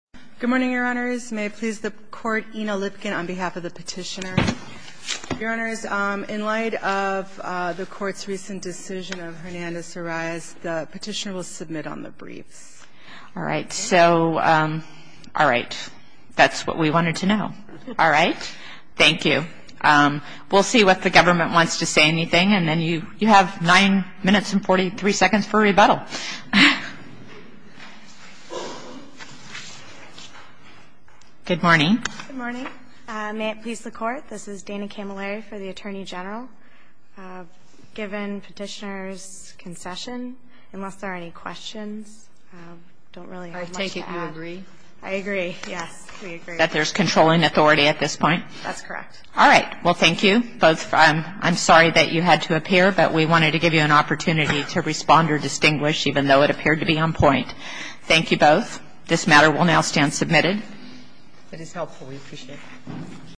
Good morning, Your Honors. May it please the Court, Ina Lipkin on behalf of the Petitioner. Your Honors, in light of the Court's recent decision of Hernandez-Soraya's, the Petitioner will submit on the briefs. All right. So, all right. That's what we wanted to know. All right. Thank you. We'll see what the government wants to say anything, and then you have 9 minutes and 43 seconds for rebuttal. Good morning. Good morning. May it please the Court, this is Dana Camilleri for the Attorney General. Given Petitioner's concession, unless there are any questions, I don't really have much to add. I take it you agree? I agree. Yes, we agree. That there's controlling authority at this point? That's correct. All right. Well, thank you both. I'm sorry that you had to appear, but we wanted to give you an opportunity to respond or distinguish, even though it appeared to be on point. Thank you both. This matter will now stand submitted. That is helpful. We appreciate it.